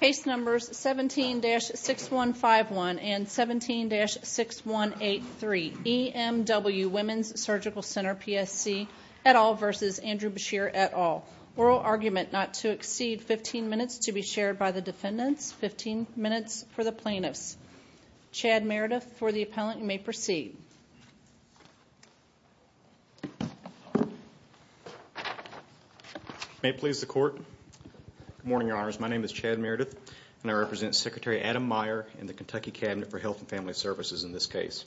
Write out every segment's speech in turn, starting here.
Case Numbers 17-6151 and 17-6183, EMW Women's Surgical Center, PSC, et al. v. Andrew Beshear, et al. Oral argument not to exceed 15 minutes to be shared by the defendants, 15 minutes for the plaintiffs. Chad Meredith for the appellant, you may proceed. May it please the Court. Good morning, Your Honors. My name is Chad Meredith, and I represent Secretary Adam Meyer in the Kentucky Cabinet for Health and Family Services in this case.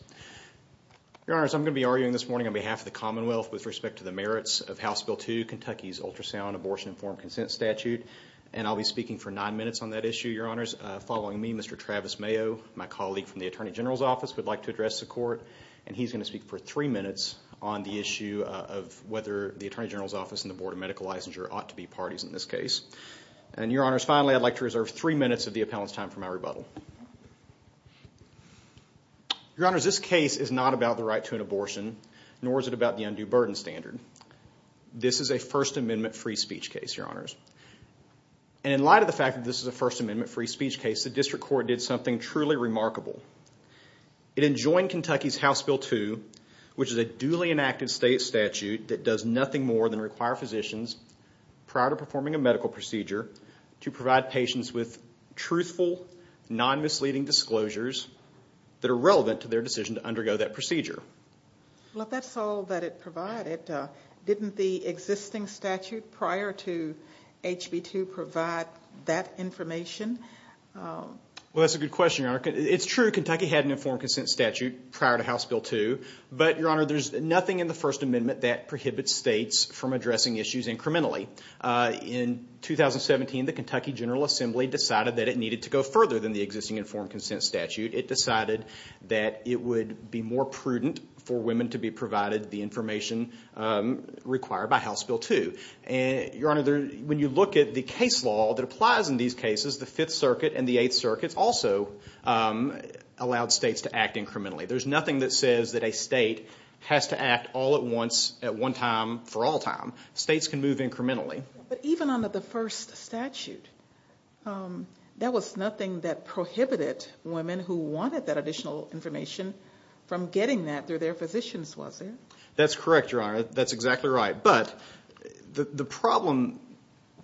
Your Honors, I'm going to be arguing this morning on behalf of the Commonwealth with respect to the merits of House Bill 2, Kentucky's Ultrasound Abortion Informed Consent Statute, and I'll be speaking for nine minutes on that issue, Your Honors. Following me, Mr. Travis Mayo, my colleague from the Attorney General's Office, would like to address the Court, and he's going to speak for three minutes on the issue of whether the Attorney General's Office and the Board of Medical Licensure ought to be parties in this case. And Your Honors, finally, I'd like to reserve three minutes of the appellant's time for my rebuttal. Your Honors, this case is not about the right to an abortion, nor is it about the undue burden standard. This is a First Amendment free speech case, Your Honors. And in light of the fact that this is a First Amendment free speech case, the District Court did something truly remarkable. It enjoined Kentucky's House Bill 2, which is a duly enacted state statute that does nothing more than require physicians, prior to performing a medical procedure, to provide patients with truthful, non-misleading disclosures that are relevant to their decision to undergo that procedure. Well, that's all that it provided. Didn't the existing statute prior to HB 2 provide that information? Well, that's a good question, Your Honor. It's true, Kentucky had an informed consent statute prior to House Bill 2, but, Your Honor, there's nothing in the First Amendment that prohibits states from addressing issues incrementally. In 2017, the Kentucky General Assembly decided that it needed to go further than the existing informed consent statute. It decided that it would be more prudent for women to be provided the information required by House Bill 2. Your Honor, when you look at the case law that applies in these cases, the Fifth Circuit and the Eighth Circuit also allowed states to act incrementally. There's nothing that says that a state has to act all at once, at one time, for all time. States can move incrementally. But even under the first statute, there was nothing that prohibited women who wanted that additional information from getting that through their physicians, was there? That's correct, Your Honor. That's exactly right. But the problem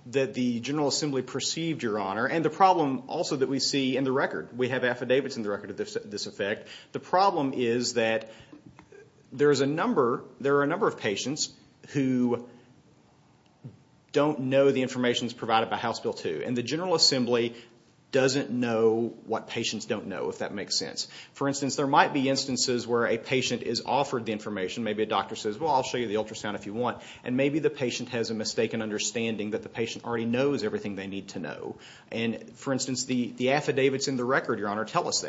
that the General Assembly perceived, Your Honor, and the problem also that we see in the record. We have affidavits in the record of this effect. The problem is that there are a number of patients who don't know the information that's provided by House Bill 2. And the General Assembly doesn't know what patients don't know, if that makes sense. For instance, there might be instances where a patient is offered the information. Maybe a doctor says, well, I'll show you the ultrasound if you want. And maybe the patient has a mistaken understanding that the patient already knows everything they need to know. And, for instance, the affidavits in the record, Your Honor, tell us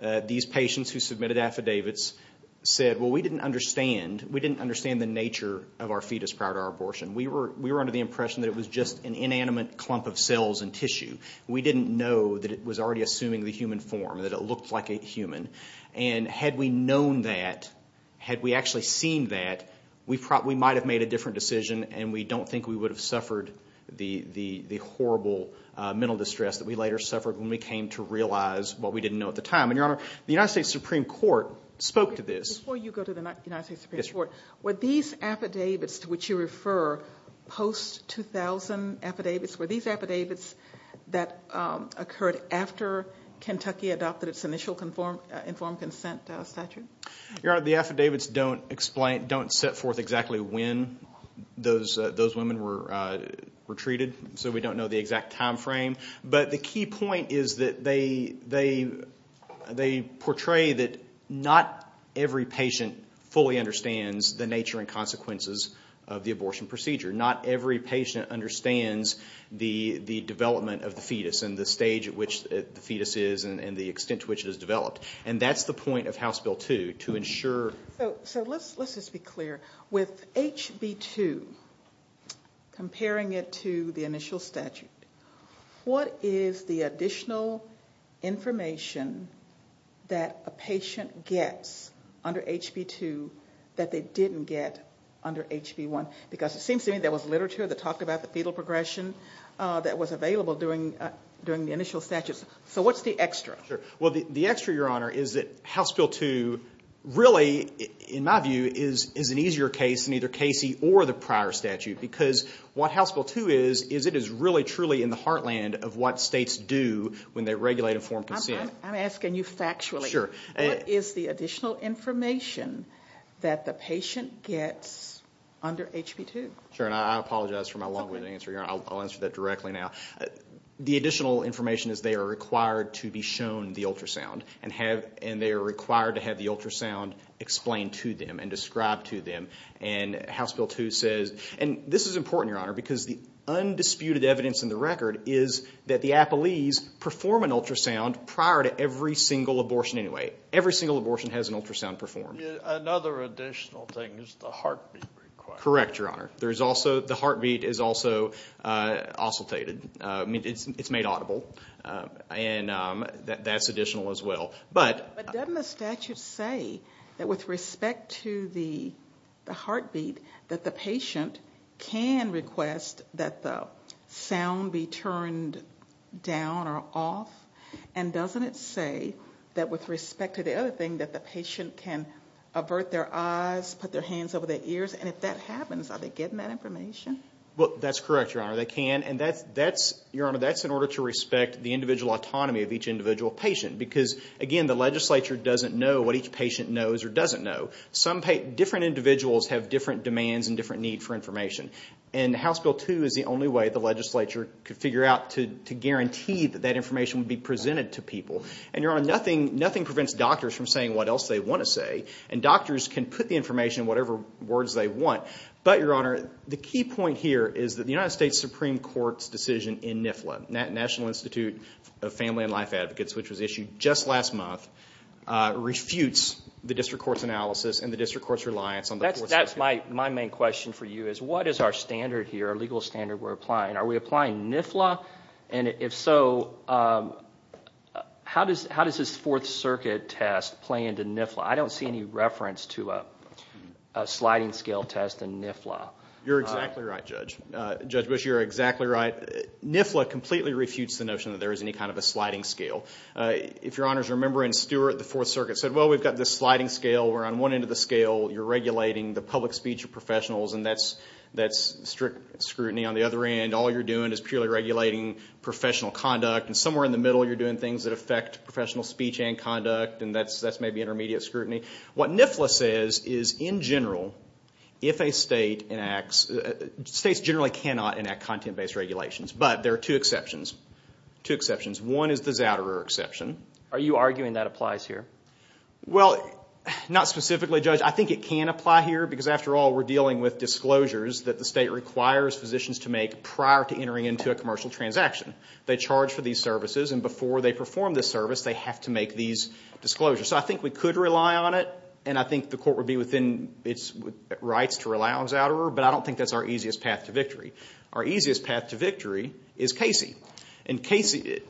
that. These patients who submitted affidavits said, well, we didn't understand the nature of our fetus prior to our abortion. We were under the impression that it was just an inanimate clump of cells and tissue. We didn't know that it was already assuming the human form, that it looked like a human. And had we known that, had we actually seen that, we might have made a different decision. And we don't think we would have suffered the horrible mental distress that we later suffered when we came to realize what we didn't know at the time. And, Your Honor, the United States Supreme Court spoke to this. Before you go to the United States Supreme Court, were these affidavits to which you refer post-2000 affidavits, were these affidavits that occurred after Kentucky adopted its initial informed consent statute? Your Honor, the affidavits don't set forth exactly when those women were treated. So we don't know the exact time frame. But the key point is that they portray that not every patient fully understands the nature and consequences of the abortion procedure. Not every patient understands the development of the fetus and the stage at which the fetus is and the extent to which it is developed. And that's the point of House Bill 2, to ensure. So let's just be clear. With HB2, comparing it to the initial statute, what is the additional information that a patient gets under HB2 that they didn't get under HB1? Because it seems to me there was literature that talked about the fetal progression that was available during the initial statute. So what's the extra? Well, the extra, Your Honor, is that House Bill 2 really, in my view, is an easier case than either Casey or the prior statute. Because what House Bill 2 is, is it is really truly in the heartland of what states do when they regulate informed consent. I'm asking you factually. Sure. What is the additional information that the patient gets under HB2? Sure, and I apologize for my long-winded answer, Your Honor. I'll answer that directly now. The additional information is they are required to be shown the ultrasound. And they are required to have the ultrasound explained to them and described to them. And House Bill 2 says, and this is important, Your Honor, because the undisputed evidence in the record is that the Applees perform an ultrasound prior to every single abortion anyway. Every single abortion has an ultrasound performed. Another additional thing is the heartbeat requirement. Correct, Your Honor. The heartbeat is also oscillated. It's made audible. And that's additional as well. But doesn't the statute say that with respect to the heartbeat, that the patient can request that the sound be turned down or off? And doesn't it say that with respect to the other thing, that the patient can avert their eyes, put their hands over their ears? And if that happens, are they getting that information? Well, that's correct, Your Honor. They can. And that's, Your Honor, that's in order to respect the individual autonomy of each individual patient. Because, again, the legislature doesn't know what each patient knows or doesn't know. Different individuals have different demands and different needs for information. And House Bill 2 is the only way the legislature could figure out to guarantee that that information would be presented to people. And, Your Honor, nothing prevents doctors from saying what else they want to say. And doctors can put the information in whatever words they want. But, Your Honor, the key point here is that the United States Supreme Court's decision in NIFLA, National Institute of Family and Life Advocates, which was issued just last month, refutes the district court's analysis and the district court's reliance on the Fourth Circuit. That's my main question for you is what is our standard here, our legal standard we're applying? Are we applying NIFLA? And if so, how does this Fourth Circuit test play into NIFLA? I don't see any reference to a sliding scale test in NIFLA. You're exactly right, Judge. Judge Bush, you're exactly right. NIFLA completely refutes the notion that there is any kind of a sliding scale. If Your Honors remember in Stewart, the Fourth Circuit said, well, we've got this sliding scale where on one end of the scale you're regulating the public speech of professionals. And that's strict scrutiny. On the other end, all you're doing is purely regulating professional conduct. And somewhere in the middle you're doing things that affect professional speech and conduct. And that's maybe intermediate scrutiny. What NIFLA says is in general, if a state enacts, states generally cannot enact content-based regulations. But there are two exceptions. Two exceptions. One is the Zouderer exception. Are you arguing that applies here? Well, not specifically, Judge. I think it can apply here because, after all, we're dealing with disclosures that the state requires physicians to make prior to entering into a commercial transaction. They charge for these services, and before they perform this service, they have to make these disclosures. So I think we could rely on it, and I think the court would be within its rights to rely on Zouderer. But I don't think that's our easiest path to victory. Our easiest path to victory is Casey. And Casey,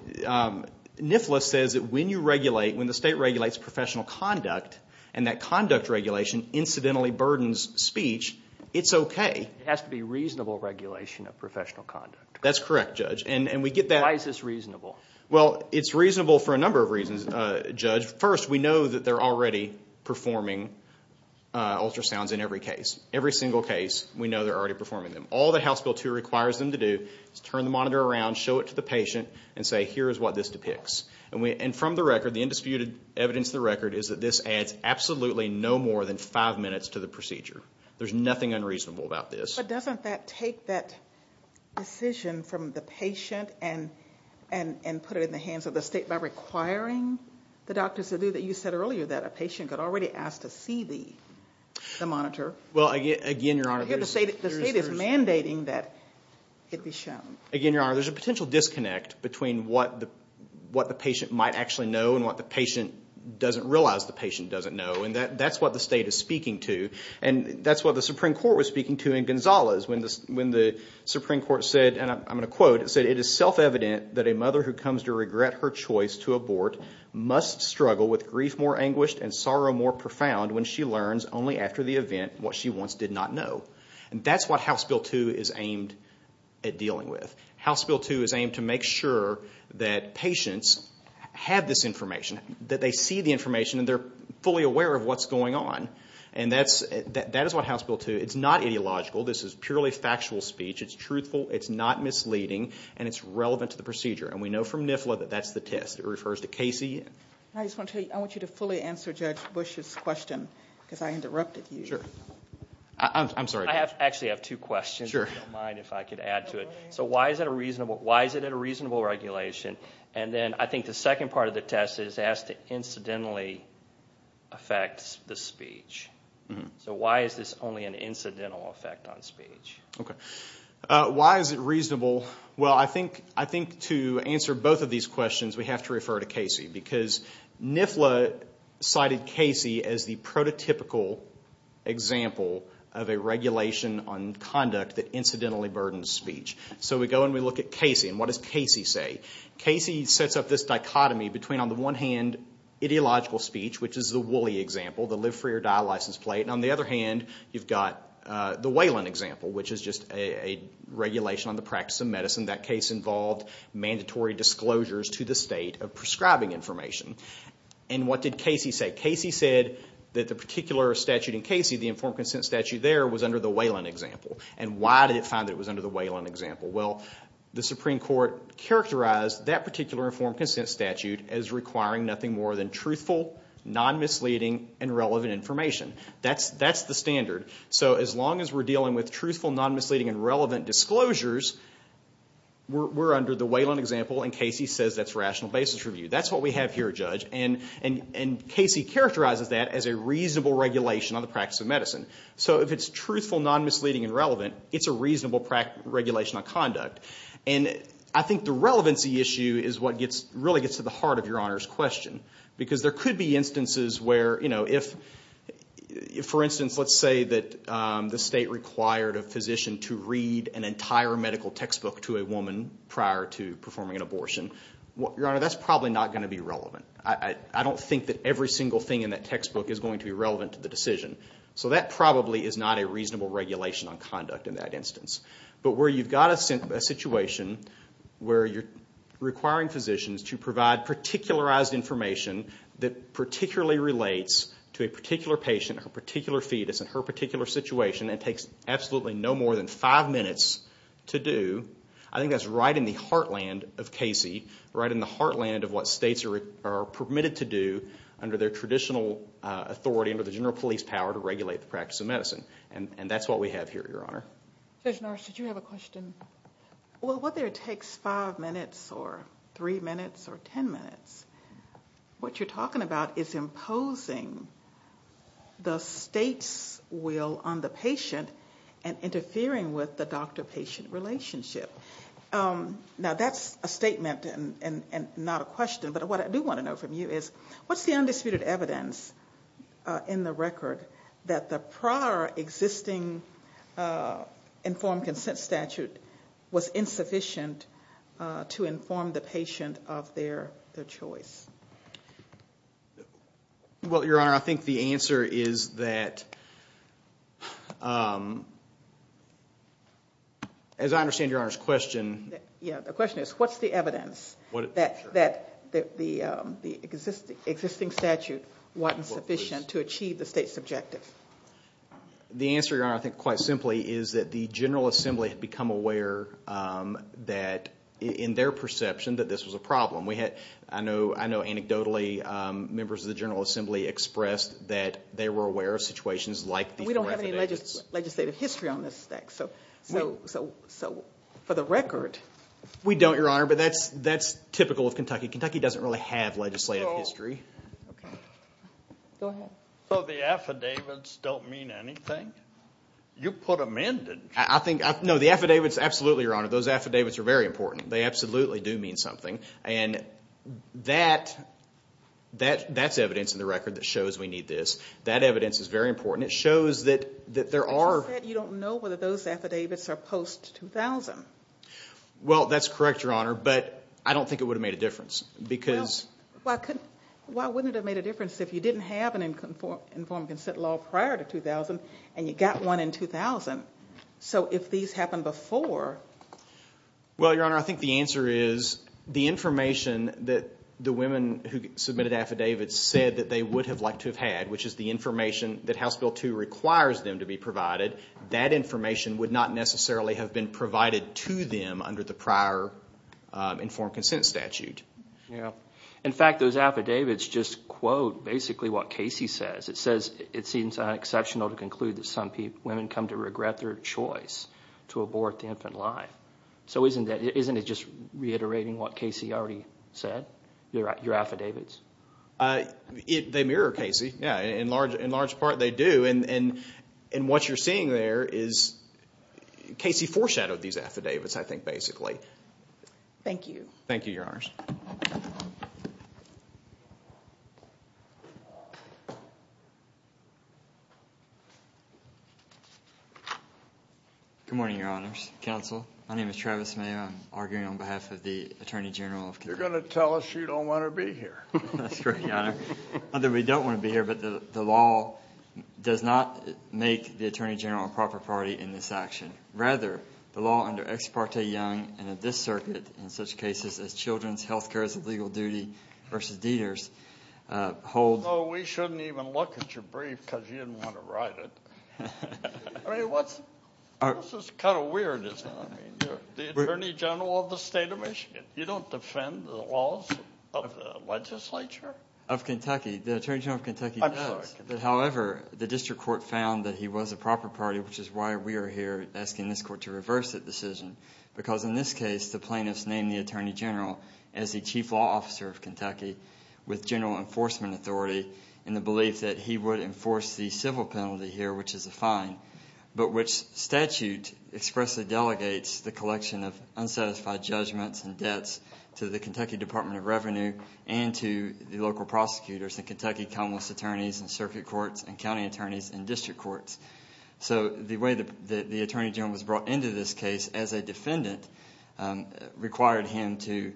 NIFLA says that when you regulate, when the state regulates professional conduct, and that conduct regulation incidentally burdens speech, it's okay. It has to be reasonable regulation of professional conduct. That's correct, Judge. And we get that. Why is this reasonable? Well, it's reasonable for a number of reasons, Judge. First, we know that they're already performing ultrasounds in every case. Every single case, we know they're already performing them. All the House Bill 2 requires them to do is turn the monitor around, show it to the patient, and say, here is what this depicts. And from the record, the indisputed evidence of the record is that this adds absolutely no more than five minutes to the procedure. There's nothing unreasonable about this. But doesn't that take that decision from the patient and put it in the hands of the state by requiring the doctors to do that? You said earlier that a patient got already asked to see the monitor. Well, again, Your Honor, there's – The state is mandating that it be shown. Again, Your Honor, there's a potential disconnect between what the patient might actually know and what the patient doesn't realize the patient doesn't know. And that's what the state is speaking to. And that's what the Supreme Court was speaking to in Gonzales when the Supreme Court said, and I'm going to quote, it said, it is self-evident that a mother who comes to regret her choice to abort must struggle with grief more anguished and sorrow more profound when she learns only after the event what she once did not know. And that's what House Bill 2 is aimed at dealing with. House Bill 2 is aimed to make sure that patients have this information, that they see the information, and they're fully aware of what's going on. And that is what House Bill 2 – it's not ideological. This is purely factual speech. It's truthful. It's not misleading. And it's relevant to the procedure. And we know from NIFLA that that's the test. It refers to Casey. I just want you to fully answer Judge Bush's question because I interrupted you. Sure. I'm sorry, Judge. I actually have two questions if you don't mind if I could add to it. So why is it a reasonable regulation? And then I think the second part of the test is asked to incidentally affect the speech. So why is this only an incidental effect on speech? Okay. Why is it reasonable? Well, I think to answer both of these questions we have to refer to Casey because NIFLA cited Casey as the prototypical example of a regulation on conduct that incidentally burdens speech. So we go and we look at Casey. And what does Casey say? Casey sets up this dichotomy between, on the one hand, ideological speech, which is the Wooley example, the live, free, or die license plate. And on the other hand, you've got the Whelan example, which is just a regulation on the practice of medicine. That case involved mandatory disclosures to the state of prescribing information. And what did Casey say? Casey said that the particular statute in Casey, the informed consent statute there, was under the Whelan example. And why did it find that it was under the Whelan example? Well, the Supreme Court characterized that particular informed consent statute as requiring nothing more than truthful, non-misleading, and relevant information. That's the standard. So as long as we're dealing with truthful, non-misleading, and relevant disclosures, we're under the Whelan example, and Casey says that's rational basis review. That's what we have here, Judge. And Casey characterizes that as a reasonable regulation on the practice of medicine. So if it's truthful, non-misleading, and relevant, it's a reasonable regulation on conduct. And I think the relevancy issue is what really gets to the heart of Your Honor's question. Because there could be instances where, you know, if, for instance, let's say that the state required a physician to read an entire medical textbook to a woman prior to performing an abortion. Your Honor, that's probably not going to be relevant. I don't think that every single thing in that textbook is going to be relevant to the decision. So that probably is not a reasonable regulation on conduct in that instance. But where you've got a situation where you're requiring physicians to provide particularized information that particularly relates to a particular patient, a particular fetus, and her particular situation, and takes absolutely no more than five minutes to do, I think that's right in the heartland of Casey, right in the heartland of what states are permitted to do under their traditional authority under the general police power to regulate the practice of medicine. And that's what we have here, Your Honor. Judge Norris, did you have a question? Well, whether it takes five minutes or three minutes or ten minutes, what you're talking about is imposing the state's will on the patient and interfering with the doctor-patient relationship. Now that's a statement and not a question, but what I do want to know from you is, what's the undisputed evidence in the record that the prior existing informed consent statute was insufficient to inform the patient of their choice? Well, Your Honor, I think the answer is that, as I understand Your Honor's question. Yeah, the question is, what's the evidence that the existing statute wasn't sufficient to achieve the state's objective? The answer, Your Honor, I think quite simply is that the General Assembly had become aware that, in their perception, that this was a problem. I know anecdotally, members of the General Assembly expressed that they were aware of situations like these. We don't have any legislative history on this stack, so for the record. We don't, Your Honor, but that's typical of Kentucky. Kentucky doesn't really have legislative history. Go ahead. So the affidavits don't mean anything? You put them in, didn't you? No, the affidavits, absolutely, Your Honor. Those affidavits are very important. They absolutely do mean something, and that's evidence in the record that shows we need this. That evidence is very important. It shows that there are – But you said you don't know whether those affidavits are post-2000. Well, that's correct, Your Honor, but I don't think it would have made a difference because – Well, why wouldn't it have made a difference if you didn't have an informed consent law prior to 2000 and you got one in 2000? So if these happened before – Well, Your Honor, I think the answer is the information that the women who submitted affidavits said that they would have liked to have had, which is the information that House Bill 2 requires them to be provided, that information would not necessarily have been provided to them under the prior informed consent statute. In fact, those affidavits just quote basically what Casey says. It says it seems unexceptional to conclude that some women come to regret their choice to abort the infant life. So isn't it just reiterating what Casey already said, your affidavits? They mirror Casey. In large part, they do, and what you're seeing there is Casey foreshadowed these affidavits I think basically. Thank you. Thank you, Your Honors. Good morning, Your Honors. Counsel, my name is Travis Mayo. I'm arguing on behalf of the Attorney General of Kentucky. You're going to tell us you don't want to be here. That's correct, Your Honor. Not that we don't want to be here, but the law does not make the Attorney General a proper party in this action. Rather, the law under Ex parte Young and of this circuit in such cases as children's health care as a legal duty versus DEDERS holds – No, we shouldn't even look at your brief because you didn't want to write it. I mean, what's this kind of weirdness? I mean, you're the Attorney General of the state of Michigan. You don't defend the laws of the legislature? Of Kentucky. The Attorney General of Kentucky does. I'm sorry. However, the district court found that he was a proper party, which is why we are here asking this court to reverse the decision because in this case the plaintiffs named the Attorney General as the chief law officer of Kentucky with general enforcement authority in the belief that he would enforce the civil penalty here, which is a fine, but which statute expressly delegates the collection of unsatisfied judgments and debts to the Kentucky Department of Revenue and to the local prosecutors and Kentucky commonwealth's attorneys and circuit courts and county attorneys and district courts. So the way the Attorney General was brought into this case as a defendant required him to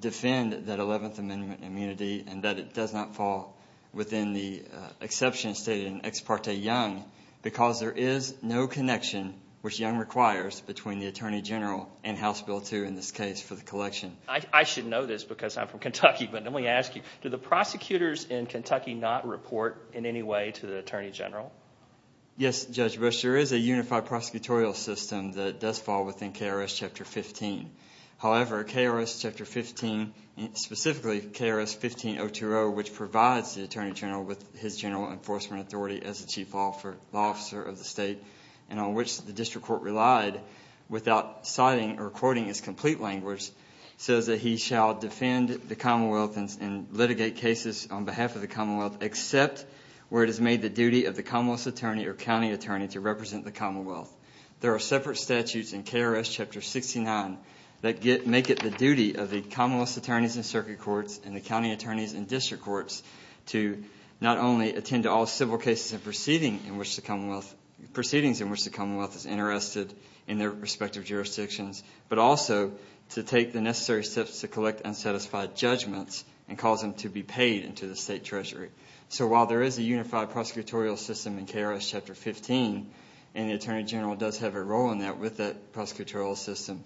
defend that Eleventh Amendment immunity and that it does not fall within the exception stated in Ex Parte Young because there is no connection, which Young requires, between the Attorney General and House Bill 2 in this case for the collection. I should know this because I'm from Kentucky, but let me ask you. Do the prosecutors in Kentucky not report in any way to the Attorney General? Yes, Judge Bush. There is a unified prosecutorial system that does fall within KRS Chapter 15. However, KRS Chapter 15, specifically KRS 15020, which provides the Attorney General with his general enforcement authority as the chief law officer of the state and on which the district court relied without citing or quoting his complete language, says that he shall defend the commonwealth and litigate cases on behalf of the commonwealth except where it has made the duty of the commonwealth's attorney or county attorney to represent the commonwealth. There are separate statutes in KRS Chapter 69 that make it the duty of the commonwealth's attorneys and circuit courts and the county attorneys and district courts to not only attend to all civil cases and proceedings in which the commonwealth is interested in their respective jurisdictions, but also to take the necessary steps to collect unsatisfied judgments and cause them to be paid into the state treasury. So while there is a unified prosecutorial system in KRS Chapter 15, and the Attorney General does have a role in that with that prosecutorial system,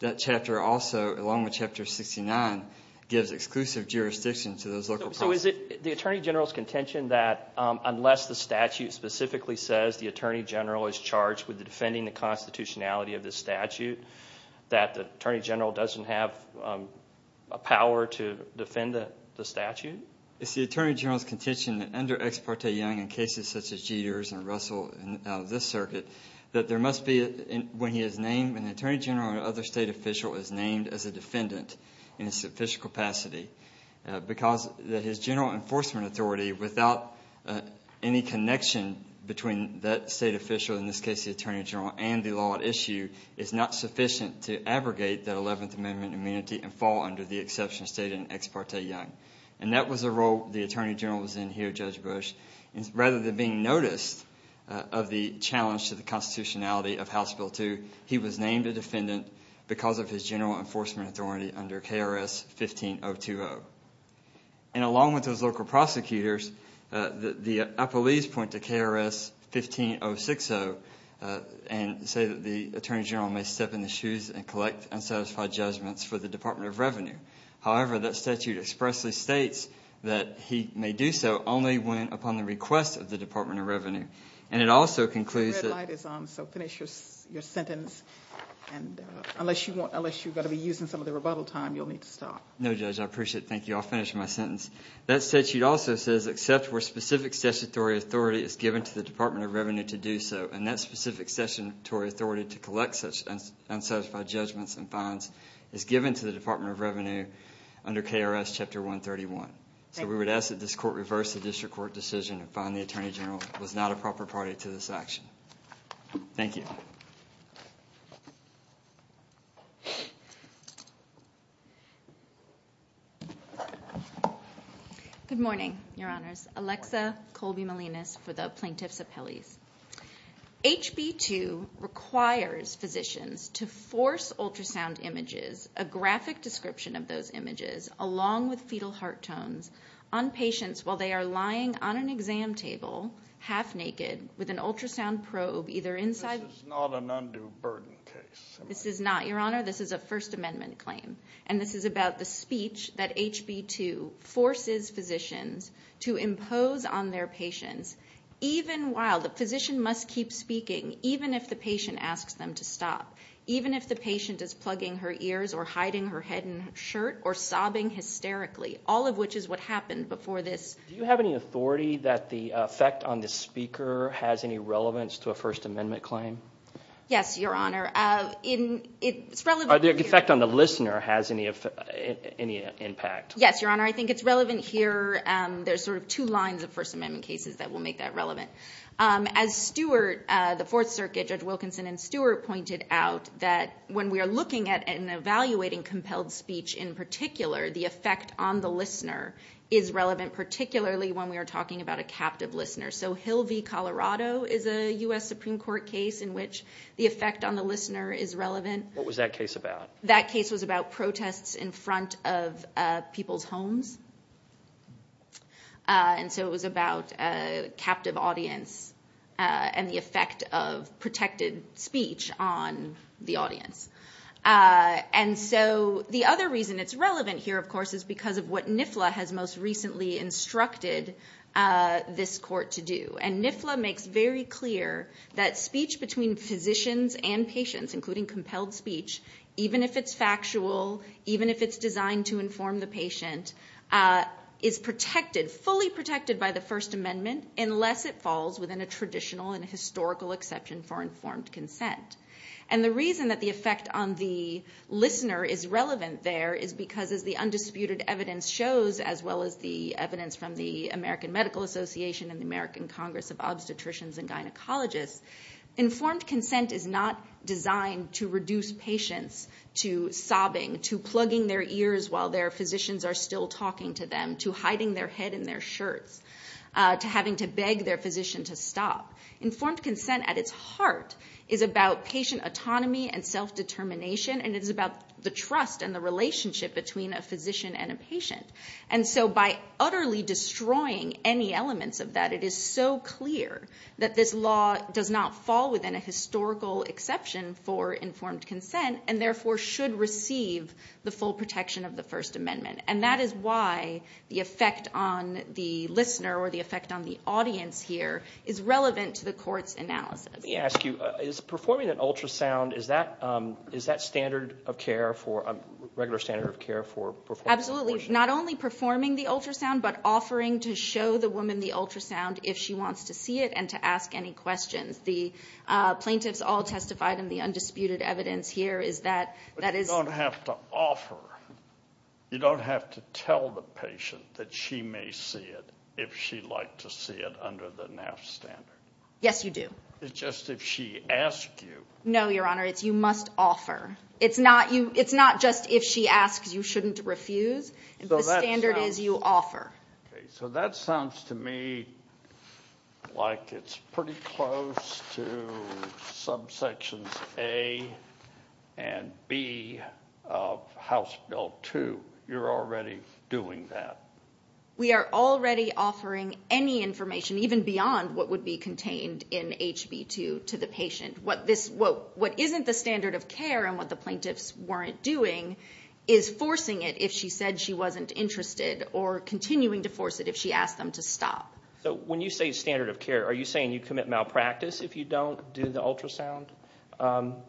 that chapter also, along with Chapter 69, gives exclusive jurisdiction to those local prosecutors. So is it the Attorney General's contention that unless the statute specifically says the Attorney General is charged with defending the constitutionality of the statute, that the Attorney General doesn't have a power to defend the statute? It's the Attorney General's contention that under Ex Parte Young in cases such as Jeter's and Russell and this circuit, that there must be, when he is named, an Attorney General or other state official is named as a defendant in its official capacity because his general enforcement authority, without any connection between that state official, in this case the Attorney General, and the law at issue, is not sufficient to abrogate that Eleventh Amendment immunity and fall under the exception stated in Ex Parte Young. And that was the role the Attorney General was in here, Judge Bush. Rather than being noticed of the challenge to the constitutionality of House Bill 2, he was named a defendant because of his general enforcement authority under KRS 15020. And along with those local prosecutors, the appellees point to KRS 15060 and say that the Attorney General may step in the shoes and collect unsatisfied judgments for the Department of Revenue. However, that statute expressly states that he may do so only when upon the request of the Department of Revenue. And it also concludes... The red light is on, so finish your sentence. Unless you're going to be using some of the rebuttal time, you'll need to stop. No, Judge, I appreciate it. Thank you. I'll finish my sentence. That statute also says, except where specific statutory authority is given to the Department of Revenue to do so. And that specific statutory authority to collect unsatisfied judgments and fines is given to the Department of Revenue under KRS Chapter 131. So we would ask that this court reverse the district court decision and find the Attorney General was not a proper party to this action. Thank you. Good morning, Your Honors. Alexa Colby-Melinas for the Plaintiffs' Appellees. HB 2 requires physicians to force ultrasound images, a graphic description of those images, along with fetal heart tones, on patients while they are lying on an exam table half naked with an ultrasound probe either inside... This is not an undue burden case. This is not, Your Honor. This is a First Amendment claim. And this is about the speech that HB 2 forces physicians to impose on their patients even while the physician must keep speaking, even if the patient asks them to stop, even if the patient is plugging her ears or hiding her head in her shirt or sobbing hysterically, all of which is what happened before this... Do you have any authority that the effect on the speaker has any relevance to a First Amendment claim? Yes, Your Honor. It's relevant... The effect on the listener has any impact? Yes, Your Honor. I think it's relevant here. There are sort of two lines of First Amendment cases that will make that relevant. As Stewart, the Fourth Circuit, Judge Wilkinson and Stewart pointed out, that when we are looking at and evaluating compelled speech in particular, the effect on the listener is relevant, particularly when we are talking about a captive listener. So Hill v. Colorado is a U.S. Supreme Court case in which the effect on the listener is relevant. What was that case about? That case was about protests in front of people's homes. And so it was about a captive audience and the effect of protected speech on the audience. And so the other reason it's relevant here, of course, is because of what NIFLA has most recently instructed this court to do. And NIFLA makes very clear that speech between physicians and patients, including compelled speech, even if it's factual, even if it's designed to inform the patient, is protected, fully protected by the First Amendment, unless it falls within a traditional and historical exception for informed consent. And the reason that the effect on the listener is relevant there is because, as the undisputed evidence shows, as well as the evidence from the American Medical Association and the American Congress of Obstetricians and Gynecologists, informed consent is not designed to reduce patients to sobbing, to plugging their ears while their physicians are still talking to them, to hiding their head in their shirts, to having to beg their physician to stop. Informed consent at its heart is about patient autonomy and self-determination, and it's about the trust and the relationship between a physician and a patient. And so by utterly destroying any elements of that, it is so clear that this law does not fall within a historical exception for informed consent and therefore should receive the full protection of the First Amendment. And that is why the effect on the listener or the effect on the audience here is relevant to the court's analysis. Let me ask you, is performing an ultrasound, is that standard of care for, Absolutely, not only performing the ultrasound, but offering to show the woman the ultrasound if she wants to see it and to ask any questions. The plaintiffs all testified in the undisputed evidence here is that, that is, But you don't have to offer, you don't have to tell the patient that she may see it if she'd like to see it under the NAF standard. Yes, you do. It's just if she asks you. No, Your Honor, it's you must offer. It's not just if she asks, you shouldn't refuse. The standard is you offer. So that sounds to me like it's pretty close to subsections A and B of House Bill 2. You're already doing that. We are already offering any information, even beyond what would be contained in HB2, to the patient. What isn't the standard of care and what the plaintiffs weren't doing is forcing it if she said she wasn't interested or continuing to force it if she asked them to stop. So when you say standard of care, are you saying you commit malpractice if you don't do the ultrasound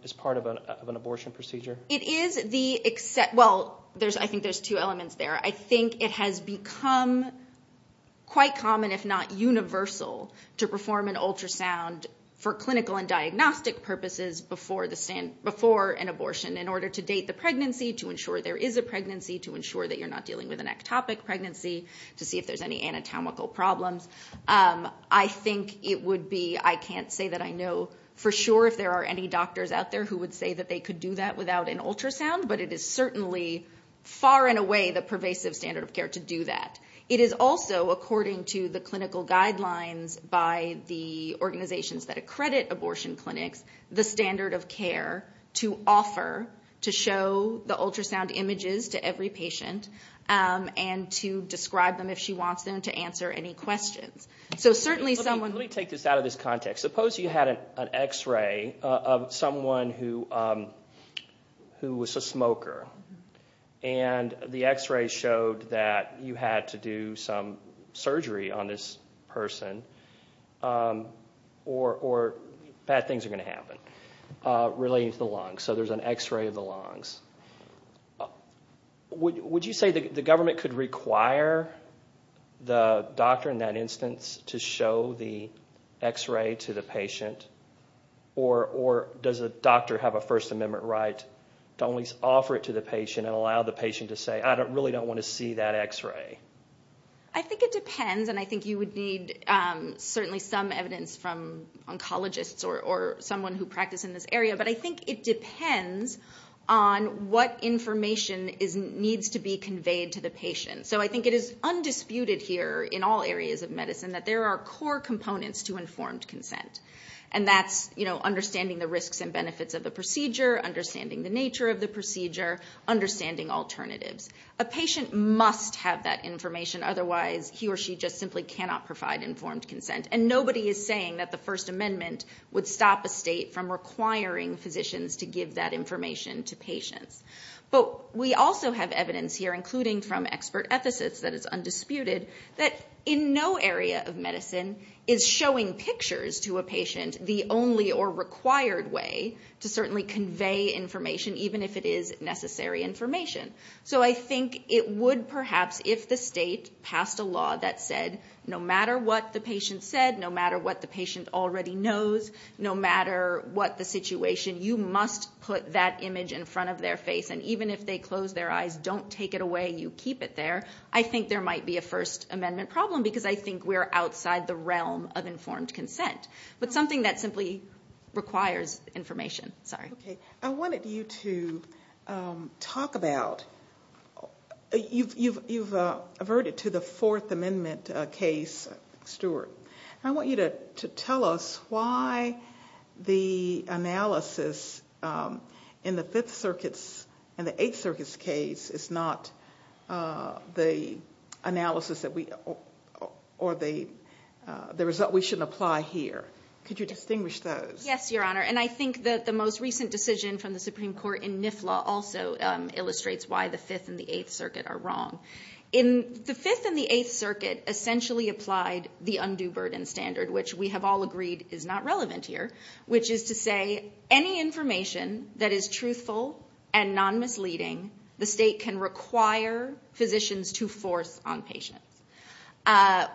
as part of an abortion procedure? It is the, well, I think there's two elements there. I think it has become quite common, if not universal, to perform an ultrasound for clinical and diagnostic purposes before an abortion in order to date the pregnancy, to ensure there is a pregnancy, to ensure that you're not dealing with an ectopic pregnancy, to see if there's any anatomical problems. I think it would be, I can't say that I know for sure if there are any doctors out there who would say that they could do that without an ultrasound, but it is certainly far and away the pervasive standard of care to do that. It is also, according to the clinical guidelines by the organizations that accredit abortion clinics, the standard of care to offer, to show the ultrasound images to every patient and to describe them if she wants them, to answer any questions. So certainly someone... Let me take this out of this context. Suppose you had an x-ray of someone who was a smoker and the x-ray showed that you had to do some surgery on this person or bad things are going to happen relating to the lungs. So there's an x-ray of the lungs. Would you say the government could require the doctor in that instance to show the x-ray to the patient or does the doctor have a First Amendment right to only offer it to the patient and allow the patient to say, I really don't want to see that x-ray? I think it depends, and I think you would need certainly some evidence from oncologists or someone who practices in this area, but I think it depends on what information needs to be conveyed to the patient. So I think it is undisputed here in all areas of medicine that there are core components to informed consent. And that's understanding the risks and benefits of the procedure, understanding the nature of the procedure, understanding alternatives. A patient must have that information, otherwise he or she just simply cannot provide informed consent. And nobody is saying that the First Amendment would stop a state from requiring physicians to give that information to patients. But we also have evidence here, including from expert ethicists, that is undisputed, that in no area of medicine is showing pictures to a patient the only or required way to certainly convey information, even if it is necessary information. So I think it would perhaps if the state passed a law that said, no matter what the patient said, no matter what the patient already knows, no matter what the situation, you must put that image in front of their face. And even if they close their eyes, don't take it away, you keep it there, I think there might be a First Amendment problem because I think we're outside the realm of informed consent. But something that simply requires information. I wanted you to talk about, you've averted to the Fourth Amendment case, Stuart. And I want you to tell us why the analysis in the Fifth Circuit's and the Eighth Circuit's case is not the analysis or the result we should apply here. Could you distinguish those? Yes, Your Honor. And I think that the most recent decision from the Supreme Court in NIFLA also illustrates why the Fifth and the Eighth Circuit are wrong. The Fifth and the Eighth Circuit essentially applied the undue burden standard, which we have all agreed is not relevant here, which is to say any information that is truthful and non-misleading, the state can require physicians to force on patients.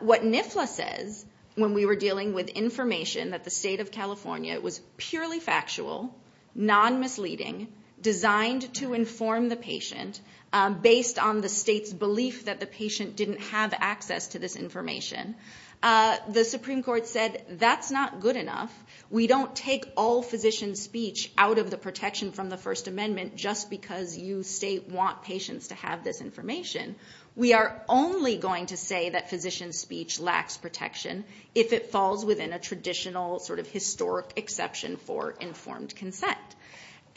What NIFLA says when we were dealing with information that the state of California was purely factual, non-misleading, designed to inform the patient, based on the state's belief that the patient didn't have access to this information, the Supreme Court said that's not good enough. We don't take all physician speech out of the protection from the First Amendment just because you state want patients to have this information. We are only going to say that physician speech lacks protection if it falls within a traditional sort of historic exception for informed consent.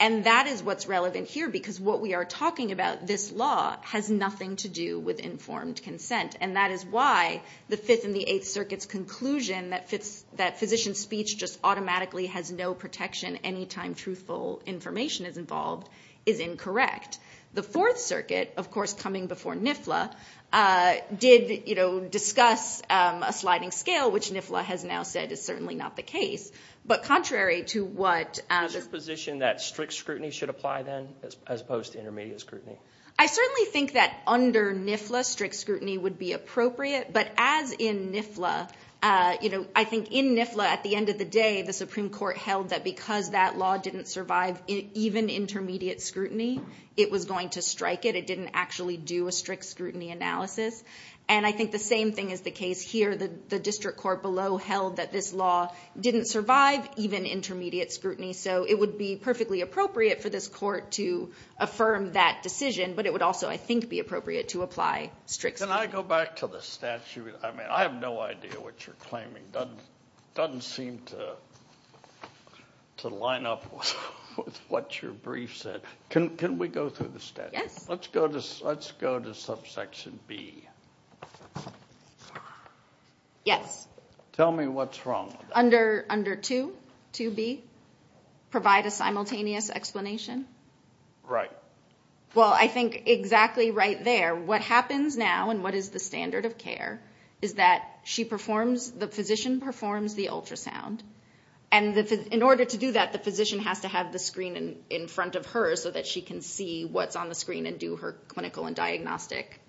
And that is what's relevant here because what we are talking about, this law has nothing to do with informed consent, and that is why the Fifth and the Eighth Circuit's conclusion that physician speech just automatically has no protection any time truthful information is involved is incorrect. The Fourth Circuit, of course coming before NIFLA, did discuss a sliding scale, which NIFLA has now said is certainly not the case. But contrary to what... Is it your position that strict scrutiny should apply then as opposed to intermediate scrutiny? I certainly think that under NIFLA strict scrutiny would be appropriate, but as in NIFLA, I think in NIFLA at the end of the day the Supreme Court held that because that law didn't survive even intermediate scrutiny, it was going to strike it. It didn't actually do a strict scrutiny analysis. And I think the same thing is the case here. The district court below held that this law didn't survive even intermediate scrutiny, so it would be perfectly appropriate for this court to affirm that decision, but it would also, I think, be appropriate to apply strict scrutiny. Can I go back to the statute? I mean I have no idea what you're claiming. It doesn't seem to line up with what your brief said. Can we go through the statute? Yes. Let's go to subsection B. Yes. Tell me what's wrong. Under 2B, provide a simultaneous explanation. Right. Well, I think exactly right there. What happens now and what is the standard of care is that the physician performs the ultrasound, and in order to do that, the physician has to have the screen in front of her so that she can see what's on the screen and do her clinical and diagnostic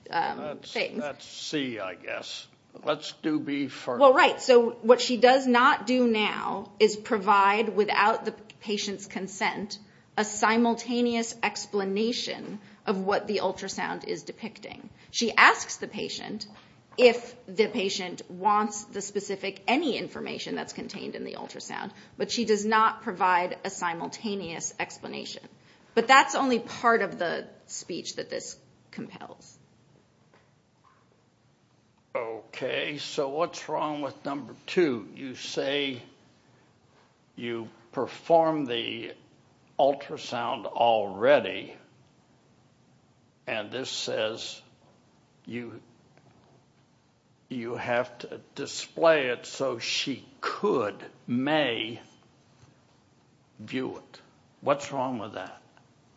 things. That's C, I guess. Let's do B first. Well, right. So what she does not do now is provide, without the patient's consent, a simultaneous explanation of what the ultrasound is depicting. She asks the patient if the patient wants the specific, any information that's contained in the ultrasound, but she does not provide a simultaneous explanation. But that's only part of the speech that this compels. Okay. So what's wrong with number 2? You say you perform the ultrasound already, and this says you have to display it so she could, may view it. What's wrong with that?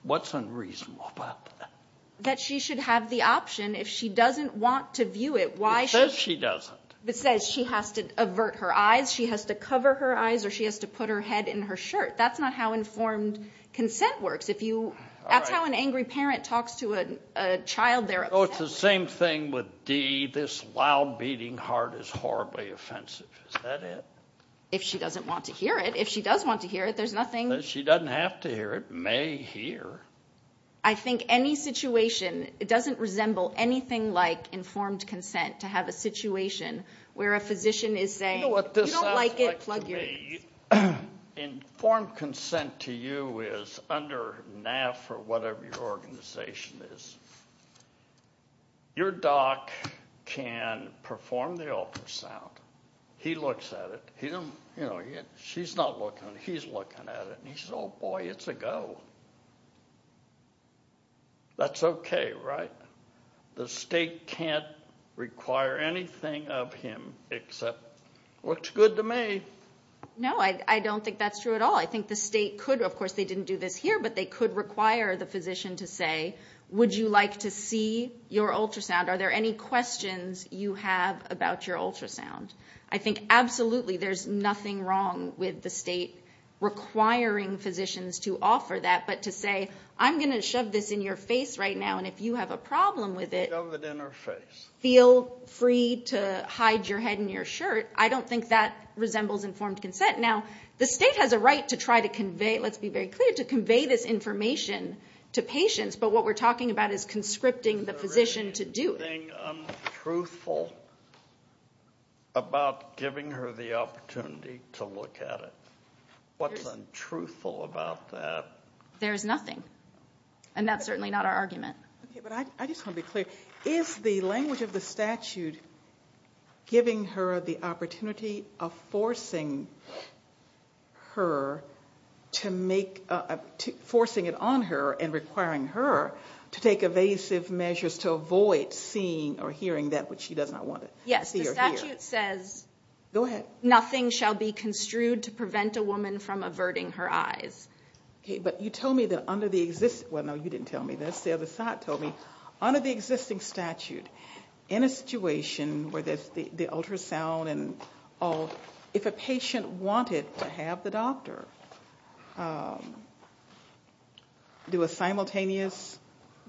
What's unreasonable about that? That she should have the option. If she doesn't want to view it, why should she? It says she doesn't. It says she has to avert her eyes, she has to cover her eyes, or she has to put her head in her shirt. That's not how informed consent works. That's how an angry parent talks to a child they're upset with. So it's the same thing with D, this loud beating heart is horribly offensive. Is that it? If she doesn't want to hear it. If she does want to hear it, there's nothing. She doesn't have to hear it, may hear. I think any situation, it doesn't resemble anything like informed consent to have a situation where a physician is saying, you don't like it, plug your ears. You know what this sounds like to me? Informed consent to you is under NAF or whatever your organization is. Your doc can perform the ultrasound. He looks at it. She's not looking at it, he's looking at it, and he says, oh, boy, it's a go. That's okay, right? The state can't require anything of him except what's good to me. No, I don't think that's true at all. I think the state could, of course, they didn't do this here, but they could require the physician to say, would you like to see your ultrasound? Are there any questions you have about your ultrasound? I think absolutely there's nothing wrong with the state requiring physicians to offer that, but to say, I'm going to shove this in your face right now, and if you have a problem with it, feel free to hide your head in your shirt. I don't think that resembles informed consent. Now, the state has a right to try to convey, let's be very clear, to convey this information to patients, but what we're talking about is conscripting the physician to do it. Is there anything untruthful about giving her the opportunity to look at it? What's untruthful about that? There is nothing, and that's certainly not our argument. Okay, but I just want to be clear. Is the language of the statute giving her the opportunity of forcing her to make, forcing it on her and requiring her to take evasive measures to avoid seeing or hearing that which she does not want to see or hear? Yes, the statute says nothing shall be construed to prevent a woman from averting her eyes. Okay, but you told me that under the existing – well, no, you didn't tell me this. The other side told me, under the existing statute, in a situation where there's the ultrasound and all, if a patient wanted to have the doctor do a simultaneous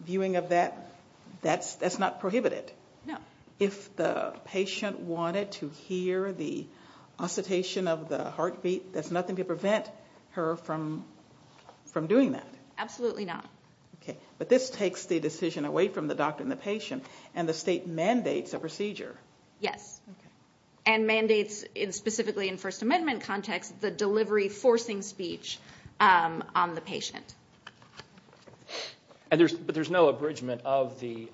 viewing of that, that's not prohibited. No. If the patient wanted to hear the oscillation of the heartbeat, there's nothing to prevent her from doing that. Absolutely not. Okay, but this takes the decision away from the doctor and the patient, and the state mandates a procedure. Yes, and mandates, specifically in First Amendment context, the delivery forcing speech on the patient. But there's no abridgment of the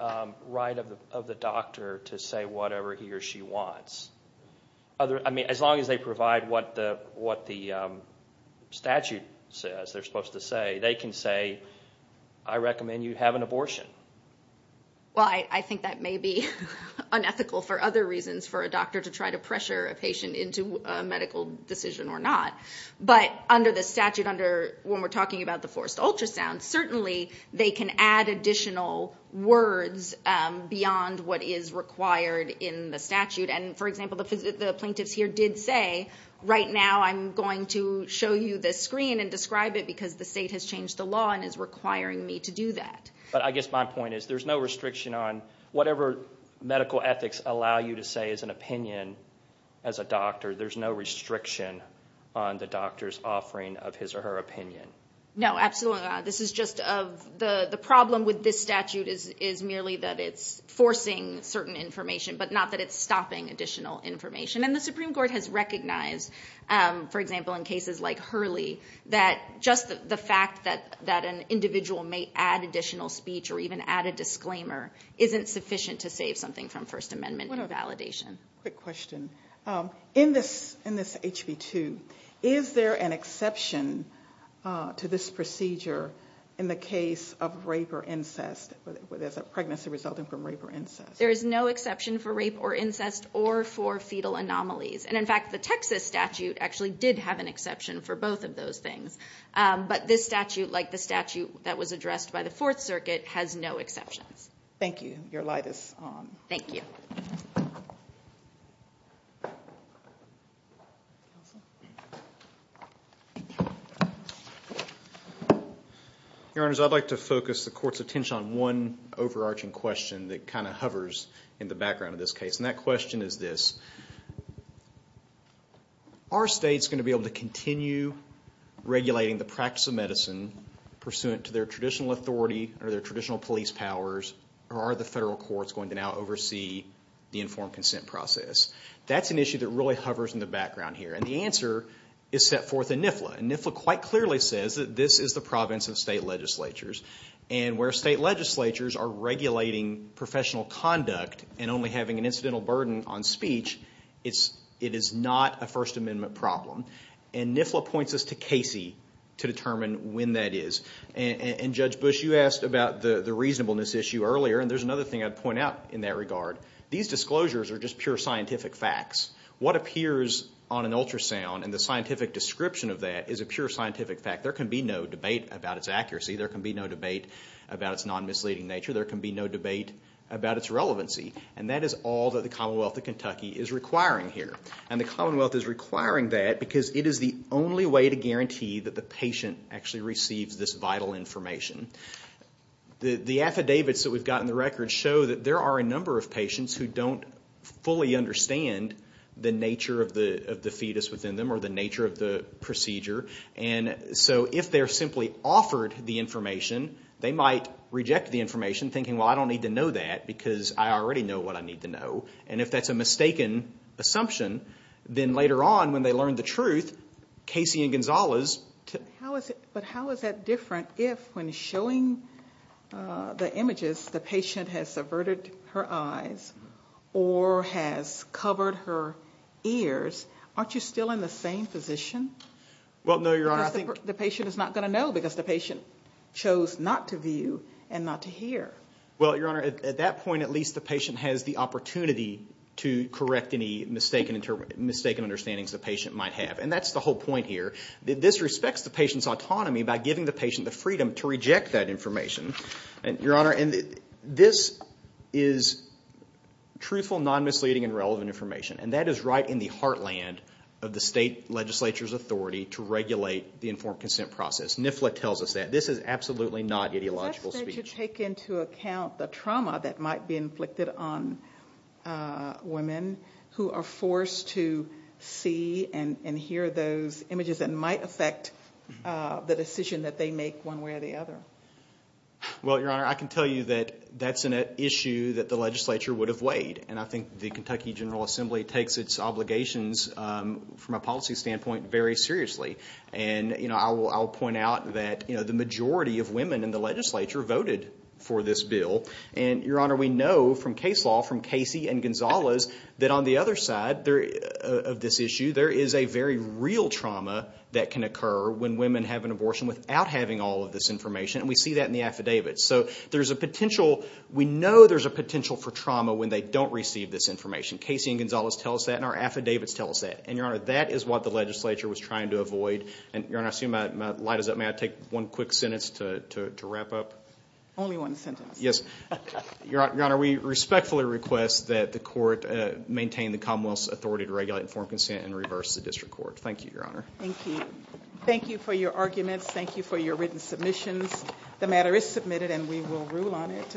right of the doctor to say whatever he or she wants. I mean, as long as they provide what the statute says they're supposed to say, they can say, I recommend you have an abortion. Well, I think that may be unethical for other reasons, for a doctor to try to pressure a patient into a medical decision or not. But under the statute, when we're talking about the forced ultrasound, certainly they can add additional words beyond what is required in the statute. And, for example, the plaintiffs here did say, right now I'm going to show you this screen and describe it because the state has changed the law and is requiring me to do that. But I guess my point is there's no restriction on whatever medical ethics allow you to say as an opinion, as a doctor, there's no restriction on the doctor's offering of his or her opinion. No, absolutely not. This is just of the problem with this statute is merely that it's forcing certain information, but not that it's stopping additional information. And the Supreme Court has recognized, for example, in cases like Hurley, that just the fact that an individual may add additional speech or even add a disclaimer isn't sufficient to save something from First Amendment validation. Quick question. In this HB 2, is there an exception to this procedure in the case of rape or incest, whether it's a pregnancy resulting from rape or incest? There is no exception for rape or incest or for fetal anomalies. And, in fact, the Texas statute actually did have an exception for both of those things. But this statute, like the statute that was addressed by the Fourth Circuit, has no exceptions. Thank you. Your light is on. Thank you. Your Honors, I'd like to focus the Court's attention on one overarching question that kind of hovers in the background of this case. And that question is this. Are states going to be able to continue regulating the practice of medicine pursuant to their traditional authority or their traditional police powers, or are the federal courts going to now oversee the informed consent process? That's an issue that really hovers in the background here. And the answer is set forth in NIFLA. And NIFLA quite clearly says that this is the province of state legislatures. And where state legislatures are regulating professional conduct and only having an incidental burden on speech, it is not a First Amendment problem. And NIFLA points us to Casey to determine when that is. And, Judge Bush, you asked about the reasonableness issue earlier, and there's another thing I'd point out in that regard. These disclosures are just pure scientific facts. What appears on an ultrasound and the scientific description of that is a pure scientific fact. There can be no debate about its accuracy. There can be no debate about its non-misleading nature. There can be no debate about its relevancy. And that is all that the Commonwealth of Kentucky is requiring here. And the Commonwealth is requiring that because it is the only way to guarantee that the patient actually receives this vital information. The affidavits that we've got in the records show that there are a number of patients who don't fully understand the nature of the fetus within them or the nature of the procedure. So if they're simply offered the information, they might reject the information, thinking, well, I don't need to know that because I already know what I need to know. And if that's a mistaken assumption, then later on when they learn the truth, Casey and Gonzales... But how is that different if, when showing the images, the patient has subverted her eyes or has covered her ears? Aren't you still in the same position? Well, no, Your Honor. The patient is not going to know because the patient chose not to view and not to hear. Well, Your Honor, at that point at least the patient has the opportunity to correct any mistaken understandings the patient might have. And that's the whole point here. This respects the patient's autonomy by giving the patient the freedom to reject that information. Your Honor, this is truthful, non-misleading, and relevant information. And that is right in the heartland of the state legislature's authority to regulate the informed consent process. NIFLA tells us that. This is absolutely not ideological speech. Does that state take into account the trauma that might be inflicted on women who are forced to see and hear those images that might affect the decision that they make one way or the other? Well, Your Honor, I can tell you that that's an issue that the legislature would have weighed. And I think the Kentucky General Assembly takes its obligations from a policy standpoint very seriously. And I'll point out that the majority of women in the legislature voted for this bill. And, Your Honor, we know from case law, from Casey and Gonzalez, that on the other side of this issue there is a very real trauma that can occur when women have an abortion without having all of this information. And we see that in the affidavits. So there's a potential. We know there's a potential for trauma when they don't receive this information. Casey and Gonzalez tell us that, and our affidavits tell us that. And, Your Honor, that is what the legislature was trying to avoid. And, Your Honor, I assume my light is up. May I take one quick sentence to wrap up? Only one sentence. Yes. Your Honor, we respectfully request that the court maintain the Commonwealth's authority to regulate informed consent and reverse the district court. Thank you, Your Honor. Thank you. Thank you for your arguments. Thank you for your written submissions. The matter is submitted, and we will rule on it.